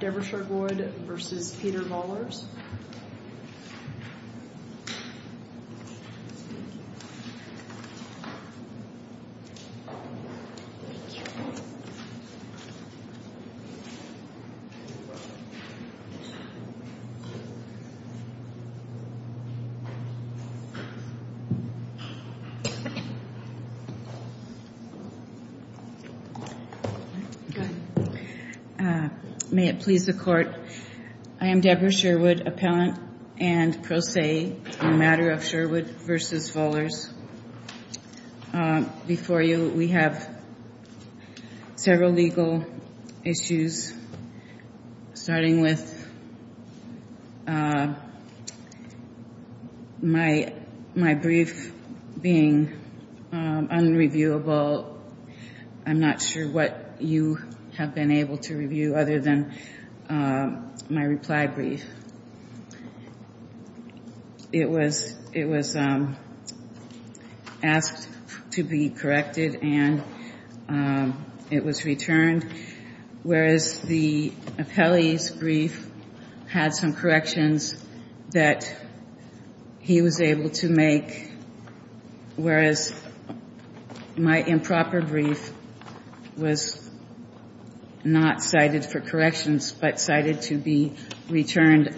Deborah Sherwood v. Peter Vollers May it please the Court, I am Deborah Sherwood. Appellant and pro se in the matter of Sherwood v. Vollers. Before you, we have several legal issues, starting with my brief being unreviewable, I'm not sure what you have been able to review other than my reply brief. It was asked to be corrected and it was returned, whereas the appellee's brief had some corrections that he was able to make, whereas my improper brief was not cited for corrections, but cited to be returned.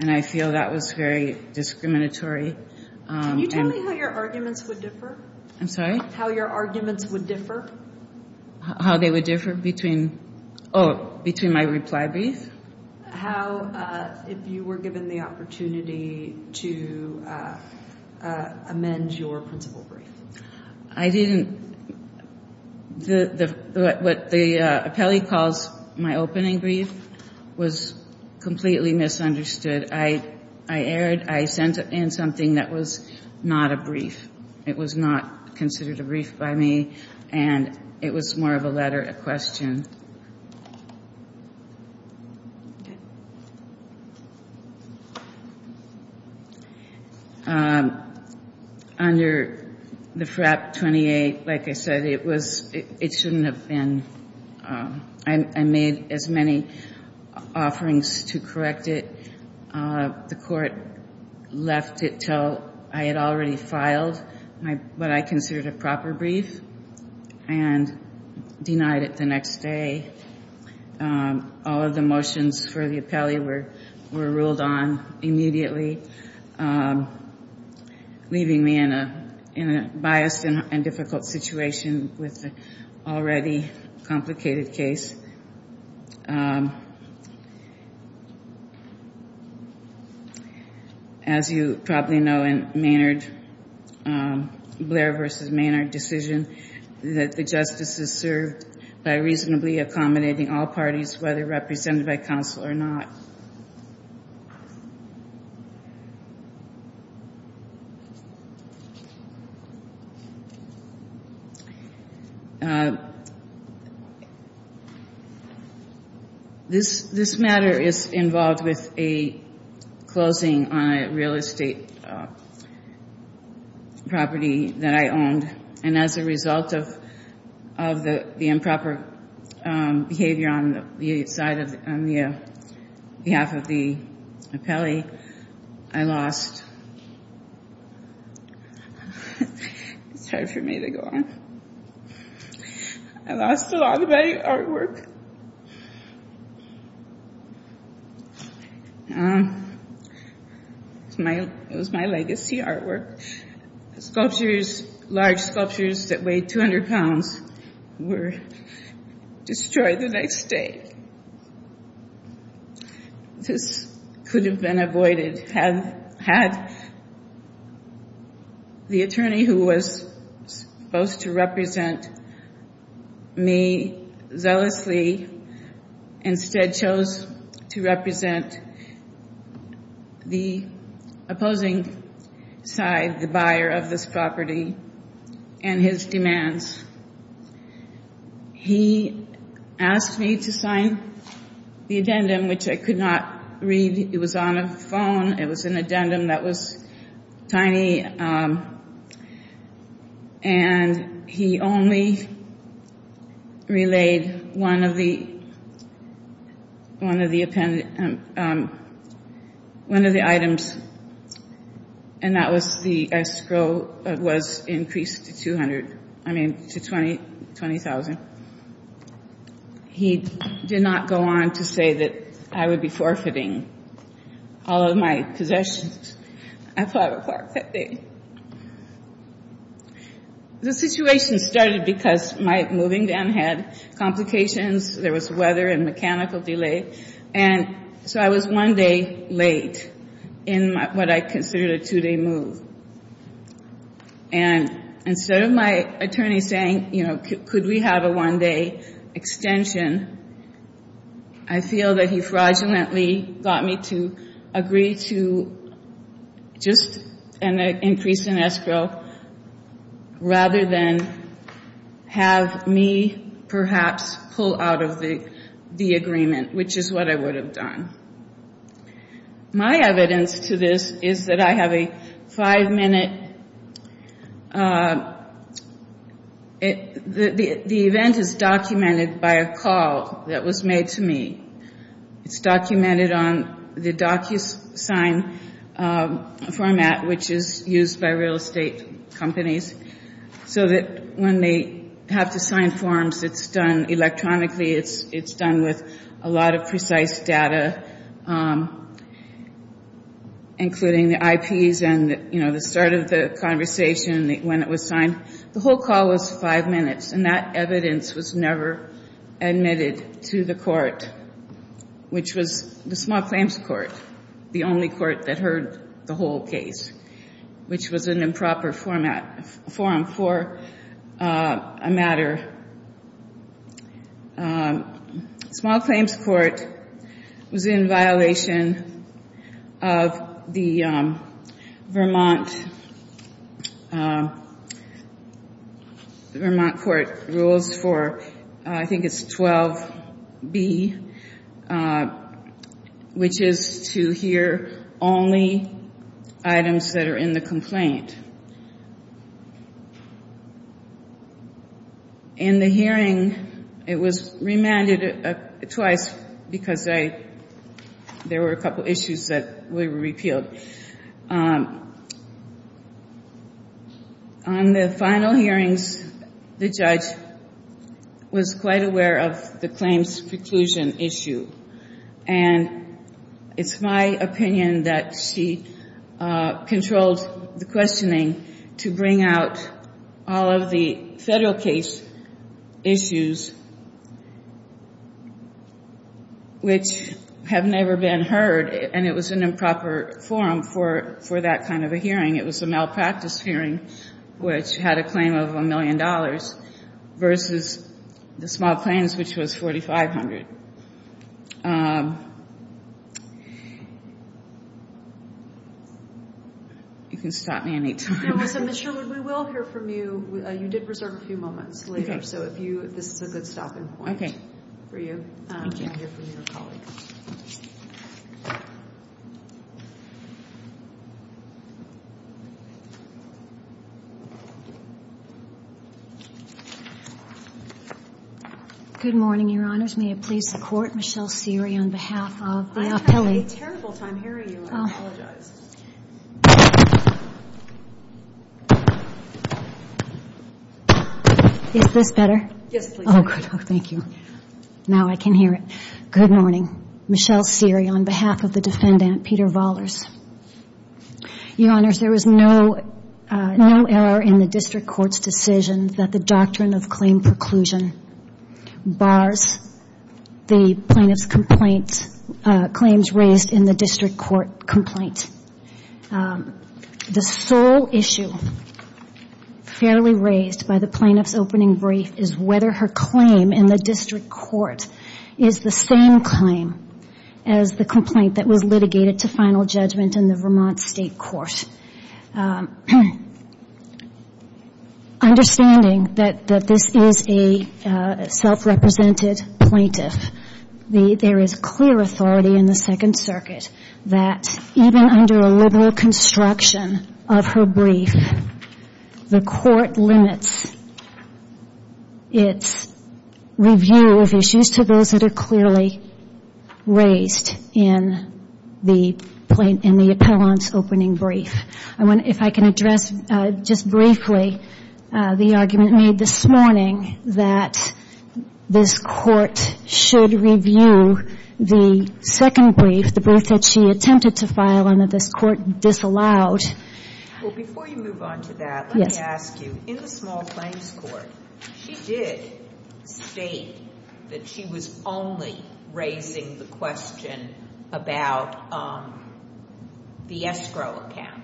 And I feel that was very discriminatory. Can you tell me how your arguments would differ? I'm sorry? How your arguments would differ? How they would differ between, oh, between my reply brief? How, if you were given the opportunity to amend your principal brief. I didn't, what the appellee calls my opening brief was completely misunderstood. I erred, I sent in something that was not a brief. It was not considered a brief by me and it was more of a letter, a question. Under the FRAP 28, like I said, it was, it shouldn't have been, I made as many offerings to correct it. The court left it till I had already filed what I considered a proper brief and denied it the next day. All of the motions for the appellee were ruled on immediately, leaving me in a biased and difficult situation with an already complicated case. As you probably know in Maynard, Blair v. Maynard decision, that the justice is served by reasonably accommodating all parties, whether represented by counsel or not. This matter is involved with a closing on a real estate property that I owned. And as a result of the improper behavior on the side of, on behalf of the appellee, I lost, it's hard for me to go on, I lost a lot of my artwork. It was my legacy artwork. Sculptures, large sculptures that weighed 200 pounds were destroyed the next day. This could have been avoided had the attorney who was supposed to represent me zealously instead chose to represent the opposing side, the buyer of this property and his demands. He asked me to sign the addendum, which I could not read. It was on a phone. It was an addendum that was tiny, and he only relayed one of the items, and that was the escrow was increased to 200. I mean, to 20,000. He did not go on to say that I would be forfeiting all of my possessions. I thought I would forfeit. The situation started because my moving down had complications. There was weather and mechanical delay. And so I was one day late in what I considered a two-day move. And instead of my attorney saying, you know, could we have a one-day extension, I feel that he fraudulently got me to agree to just an increase in escrow rather than have me perhaps pull out of the agreement, which is what I would have done. My evidence to this is that I have a five-minute – the event is documented by a call that was made to me. It's documented on the DocuSign format, which is used by real estate companies, so that when they have to sign forms, it's done electronically. It's done with a lot of precise data, including the IPs and, you know, the start of the conversation when it was signed. The whole call was five minutes, and that evidence was never admitted to the court, which was the small claims court, the only court that heard the whole case, which was an improper forum for a matter. Small claims court was in violation of the Vermont court rules for, I think it's 12B, which is to hear only items that are in the complaint. In the hearing, it was remanded twice because there were a couple issues that were repealed. On the final hearings, the judge was quite aware of the claims preclusion issue, and it's my opinion that she controlled the questioning to bring out all of the federal case issues which have never been heard, and it was an improper forum for that kind of a hearing. It was a malpractice hearing, which had a claim of $1 million versus the small claims, which was $4,500. You can stop me any time. Ms. Sherwood, we will hear from you. You did reserve a few moments later, so this is a good stopping point for you to hear from your colleagues. Good morning, Your Honors. May it please the Court, Michelle Seery on behalf of the appellee. I had a terrible time hearing you. I apologize. Is this better? Yes, please. Oh, good. Thank you. Now I can hear it. Good morning, Michelle Seery on behalf of the defendant, Peter Vollers. Your Honors, there was no error in the district court's decision that the doctrine of claim preclusion bars the plaintiff's claims raised in the district court complaint. The sole issue fairly raised by the plaintiff's opening brief is whether her claim in the district court is the same claim as the complaint that was litigated to final judgment in the Vermont State Court. Understanding that this is a self-represented plaintiff, there is clear authority in the Second Circuit that even under a liberal construction of her brief, the court limits its review of issues to those that are clearly raised in the appellant's opening brief. If I can address just briefly the argument made this morning that this court should review the second brief, the brief that she attempted to file and that this court disallowed. Well, before you move on to that, let me ask you, in the small claims court, she did state that she was only raising the question about the escrow account.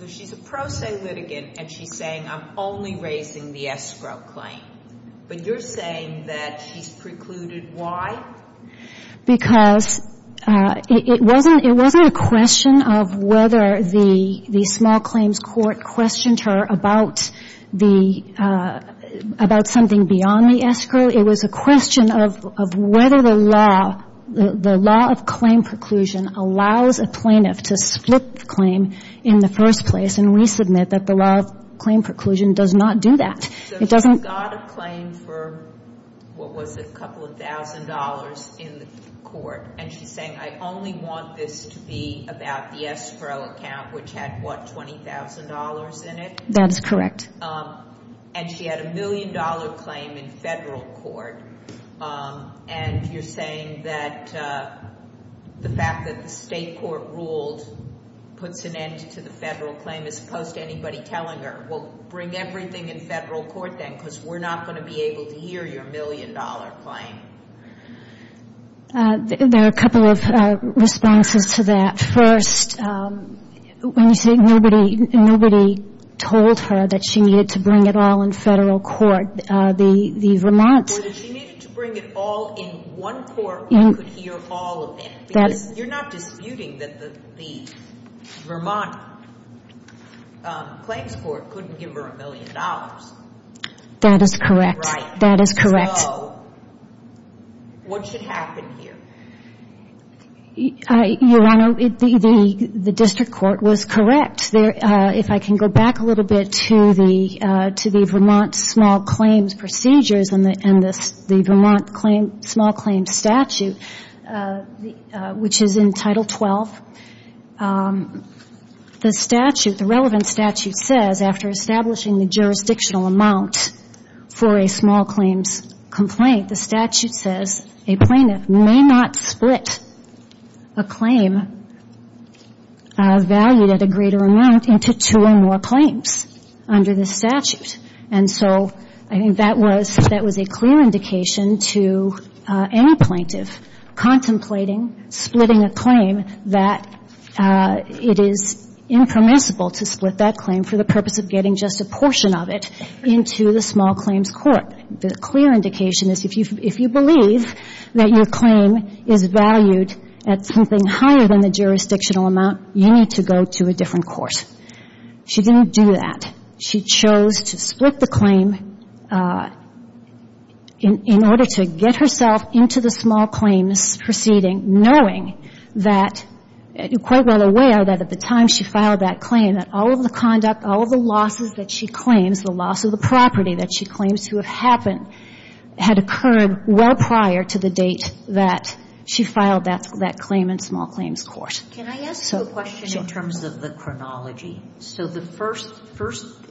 So she's a pro se litigant, and she's saying, I'm only raising the escrow claim. But you're saying that she's precluded why? Because it wasn't a question of whether the small claims court questioned her about something beyond the escrow. It was a question of whether the law of claim preclusion allows a plaintiff to split the claim in the first place. And we submit that the law of claim preclusion does not do that. So she's got a claim for, what was it, a couple of thousand dollars in the court, and she's saying, I only want this to be about the escrow account, which had, what, $20,000 in it? That is correct. And she had a million-dollar claim in Federal court, and you're saying that the fact that the State court ruled puts an end to the Federal claim as opposed to anybody telling her, well, bring everything in Federal court then, because we're not going to be able to hear your million-dollar claim. There are a couple of responses to that. First, when you say nobody told her that she needed to bring it all in Federal court, the Vermont. She needed to bring it all in one court where you could hear all of it. You're not disputing that the Vermont claims court couldn't give her a million dollars. That is correct. Right. That is correct. So what should happen here? Your Honor, the district court was correct. If I can go back a little bit to the Vermont small claims procedures and the Vermont small claims statute, which is in Title XII, the relevant statute says, after establishing the jurisdictional amount for a small claims complaint, the statute says a plaintiff may not split a claim valued at a greater amount into two or more claims under the statute. And so I think that was a clear indication to any plaintiff contemplating splitting a claim that it is impermissible to split that claim for the purpose of getting just a portion of it into the small claims court. The clear indication is if you believe that your claim is valued at something higher than the jurisdictional amount, you need to go to a different court. She didn't do that. She chose to split the claim in order to get herself into the small claims proceeding, knowing that, quite well aware that at the time she filed that claim, that all of the conduct, all of the losses that she claims, the loss of the property that she claims to have happened, had occurred well prior to the date that she filed that claim in small claims court. Can I ask you a question in terms of the chronology? So the first,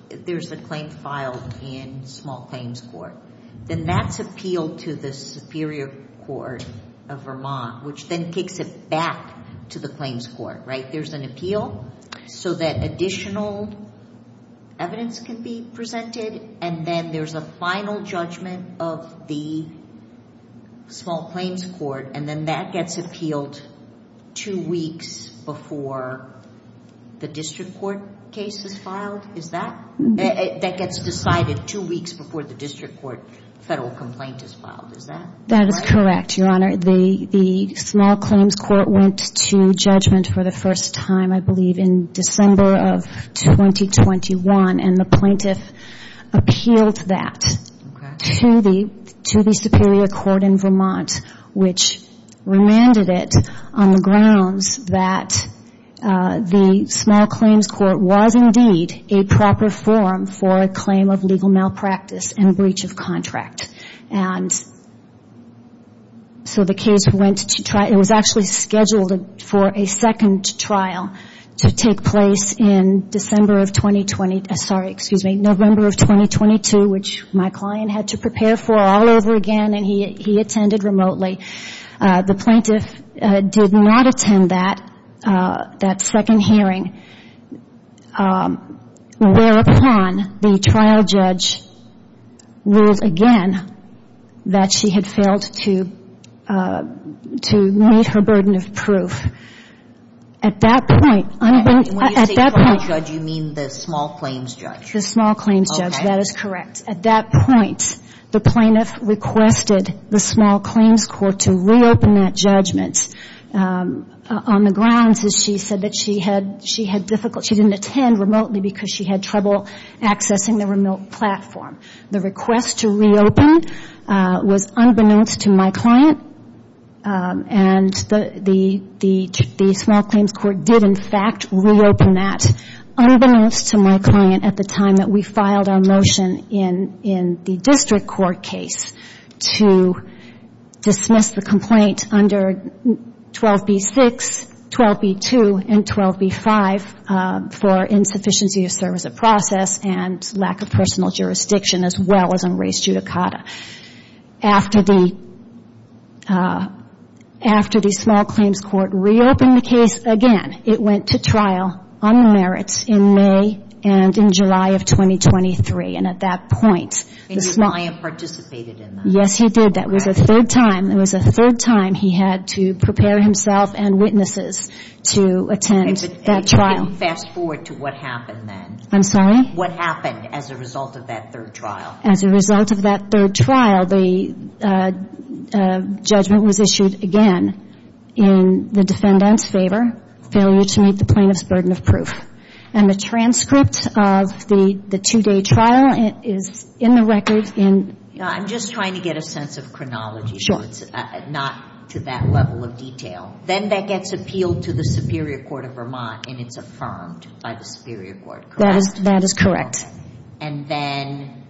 there's a claim filed in small claims court. Then that's appealed to the superior court of Vermont, which then takes it back to the claims court, right? There's an appeal so that additional evidence can be presented, and then there's a final judgment of the small claims court, and then that gets appealed two weeks before the district court case is filed? Is that? That gets decided two weeks before the district court federal complaint is filed. Is that right? That is correct, Your Honor. The small claims court went to judgment for the first time, I believe, in December of 2021, and the plaintiff appealed that to the superior court in Vermont, which remanded it on the grounds that the small claims court was indeed a proper form for a claim of legal malpractice and breach of contract. And so the case went to trial. It was actually scheduled for a second trial to take place in November of 2022, which my client had to prepare for all over again, and he attended remotely. The plaintiff did not attend that second hearing, whereupon the trial judge ruled again that she had failed to meet her burden of proof. At that point, at that point — And when you say trial judge, you mean the small claims judge? The small claims judge. That is correct. At that point, the plaintiff requested the small claims court to reopen that judgment on the grounds that she said that she had difficulty — she didn't attend remotely because she had trouble accessing the remote platform. The request to reopen was unbeknownst to my client, and the small claims court did, in fact, reopen that, unbeknownst to my client at the time that we filed our motion in the district court case to dismiss the complaint under 12b-6, 12b-2, and 12b-5 for insufficiency of service of process and lack of personal jurisdiction, as well as unraced judicata. After the small claims court reopened the case again, it went to trial on the merits in May and in July of 2023. And at that point, the small — And your client participated in that? Yes, he did. That was the third time. It was the third time he had to prepare himself and witnesses to attend that trial. And fast-forward to what happened then. I'm sorry? What happened as a result of that third trial? As a result of that third trial, the judgment was issued again in the defendant's favor, failure to meet the plaintiff's burden of proof. And the transcript of the two-day trial is in the record in — I'm just trying to get a sense of chronology. Sure. Not to that level of detail. Then that gets appealed to the Superior Court of Vermont, and it's affirmed by the Superior Court, correct? That is correct. And then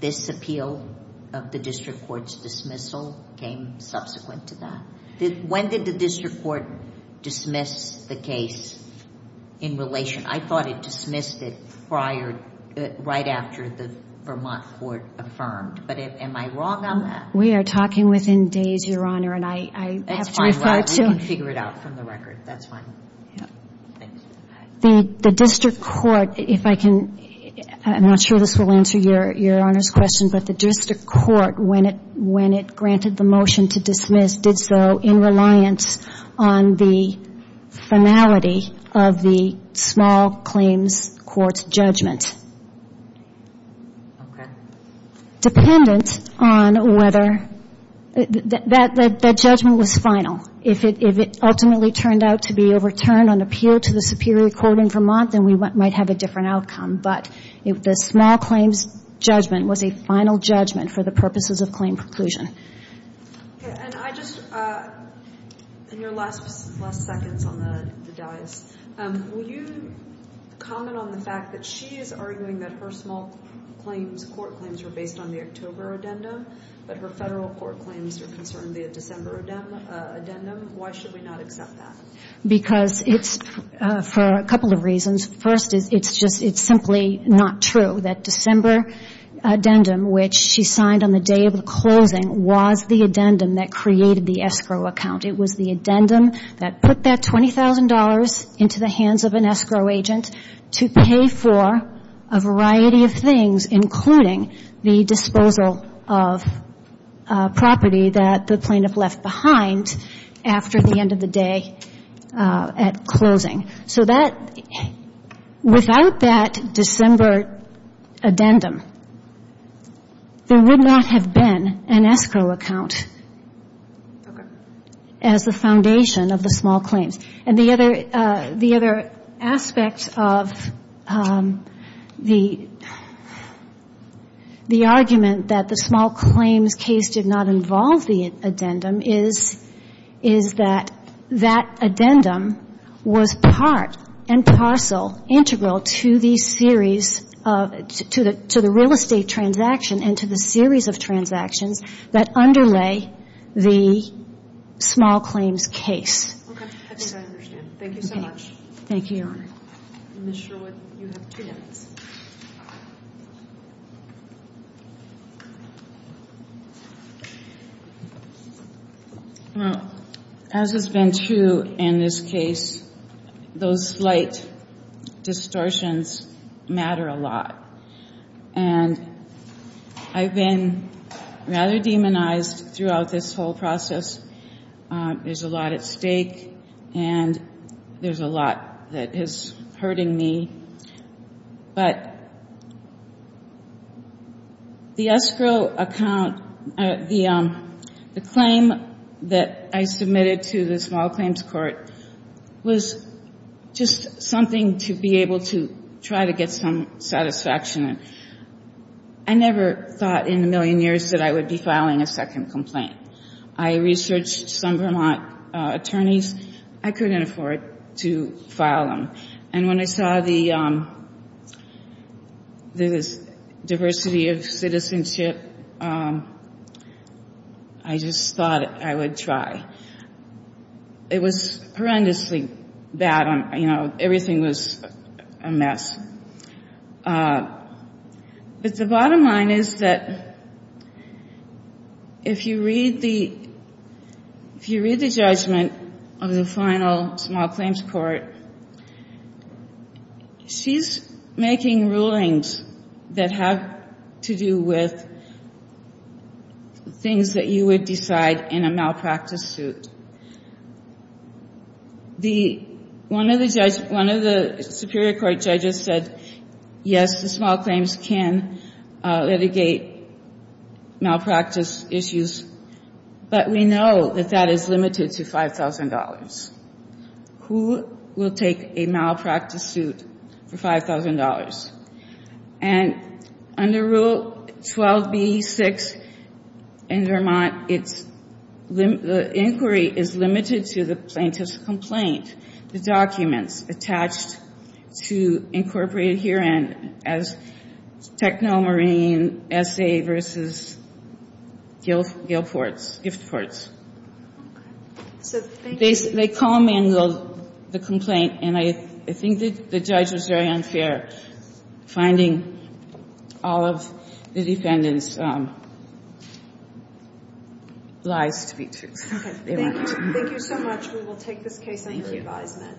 this appeal of the district court's dismissal came subsequent to that. When did the district court dismiss the case in relation — I thought it dismissed it right after the Vermont court affirmed. But am I wrong on that? We are talking within days, Your Honor, and I have to refer to — That's fine. We can figure it out from the record. That's fine. Thanks. The district court, if I can — I'm not sure this will answer Your Honor's question, but the district court, when it granted the motion to dismiss, did so in reliance on the finality of the small claims court's judgment. Okay. Dependent on whether — that judgment was final. If it ultimately turned out to be overturned on appeal to the Superior Court in Vermont, then we might have a different outcome. But the small claims judgment was a final judgment for the purposes of claim preclusion. Okay. And I just — in your last seconds on the dais, will you comment on the fact that she is arguing that her small claims court claims were based on the October addendum, but her federal court claims are concerned via December addendum? Why should we not accept that? Because it's — for a couple of reasons. First, it's just simply not true that December addendum, which she signed on the day of the closing, was the addendum that created the escrow account. It was the addendum that put that $20,000 into the hands of an escrow agent to pay for a variety of things, including the disposal of property that the plaintiff left behind after the end of the day at closing. So that — without that December addendum, there would not have been an escrow account as the foundation of the small claims. And the other aspect of the argument that the small claims case did not involve the addendum is that that addendum was part and parcel integral to the series of — to the real estate transaction and to the series of transactions that underlay the small claims case. Okay. I think I understand. Thank you so much. Thank you, Your Honor. Ms. Sherwood, you have two minutes. Well, as has been true in this case, those slight distortions matter a lot. And I've been rather demonized throughout this whole process. There's a lot at stake, and there's a lot that is hurting me. But the escrow account — the claim that I submitted to the small claims court was just something to be able to try to get some satisfaction. I never thought in a million years that I would be filing a second complaint. I researched some Vermont attorneys. I couldn't afford to file them. And when I saw the diversity of citizenship, I just thought I would try. It was horrendously bad. You know, everything was a mess. But the bottom line is that if you read the judgment of the final small claims court, she's making rulings that have to do with things that you would decide in a malpractice suit. One of the Superior Court judges said, yes, the small claims can litigate malpractice issues, but we know that that is limited to $5,000. Who will take a malpractice suit for $5,000? And under Rule 12b-6 in Vermont, the inquiry is limited to the plaintiff's complaint, the documents attached to incorporated herein as Technomarine S.A. v. Gift Ports. They call a manual the complaint, and I think the judge was very unfair, finding all of the defendants' lies to be true. Thank you so much. We will take this case on your advisement.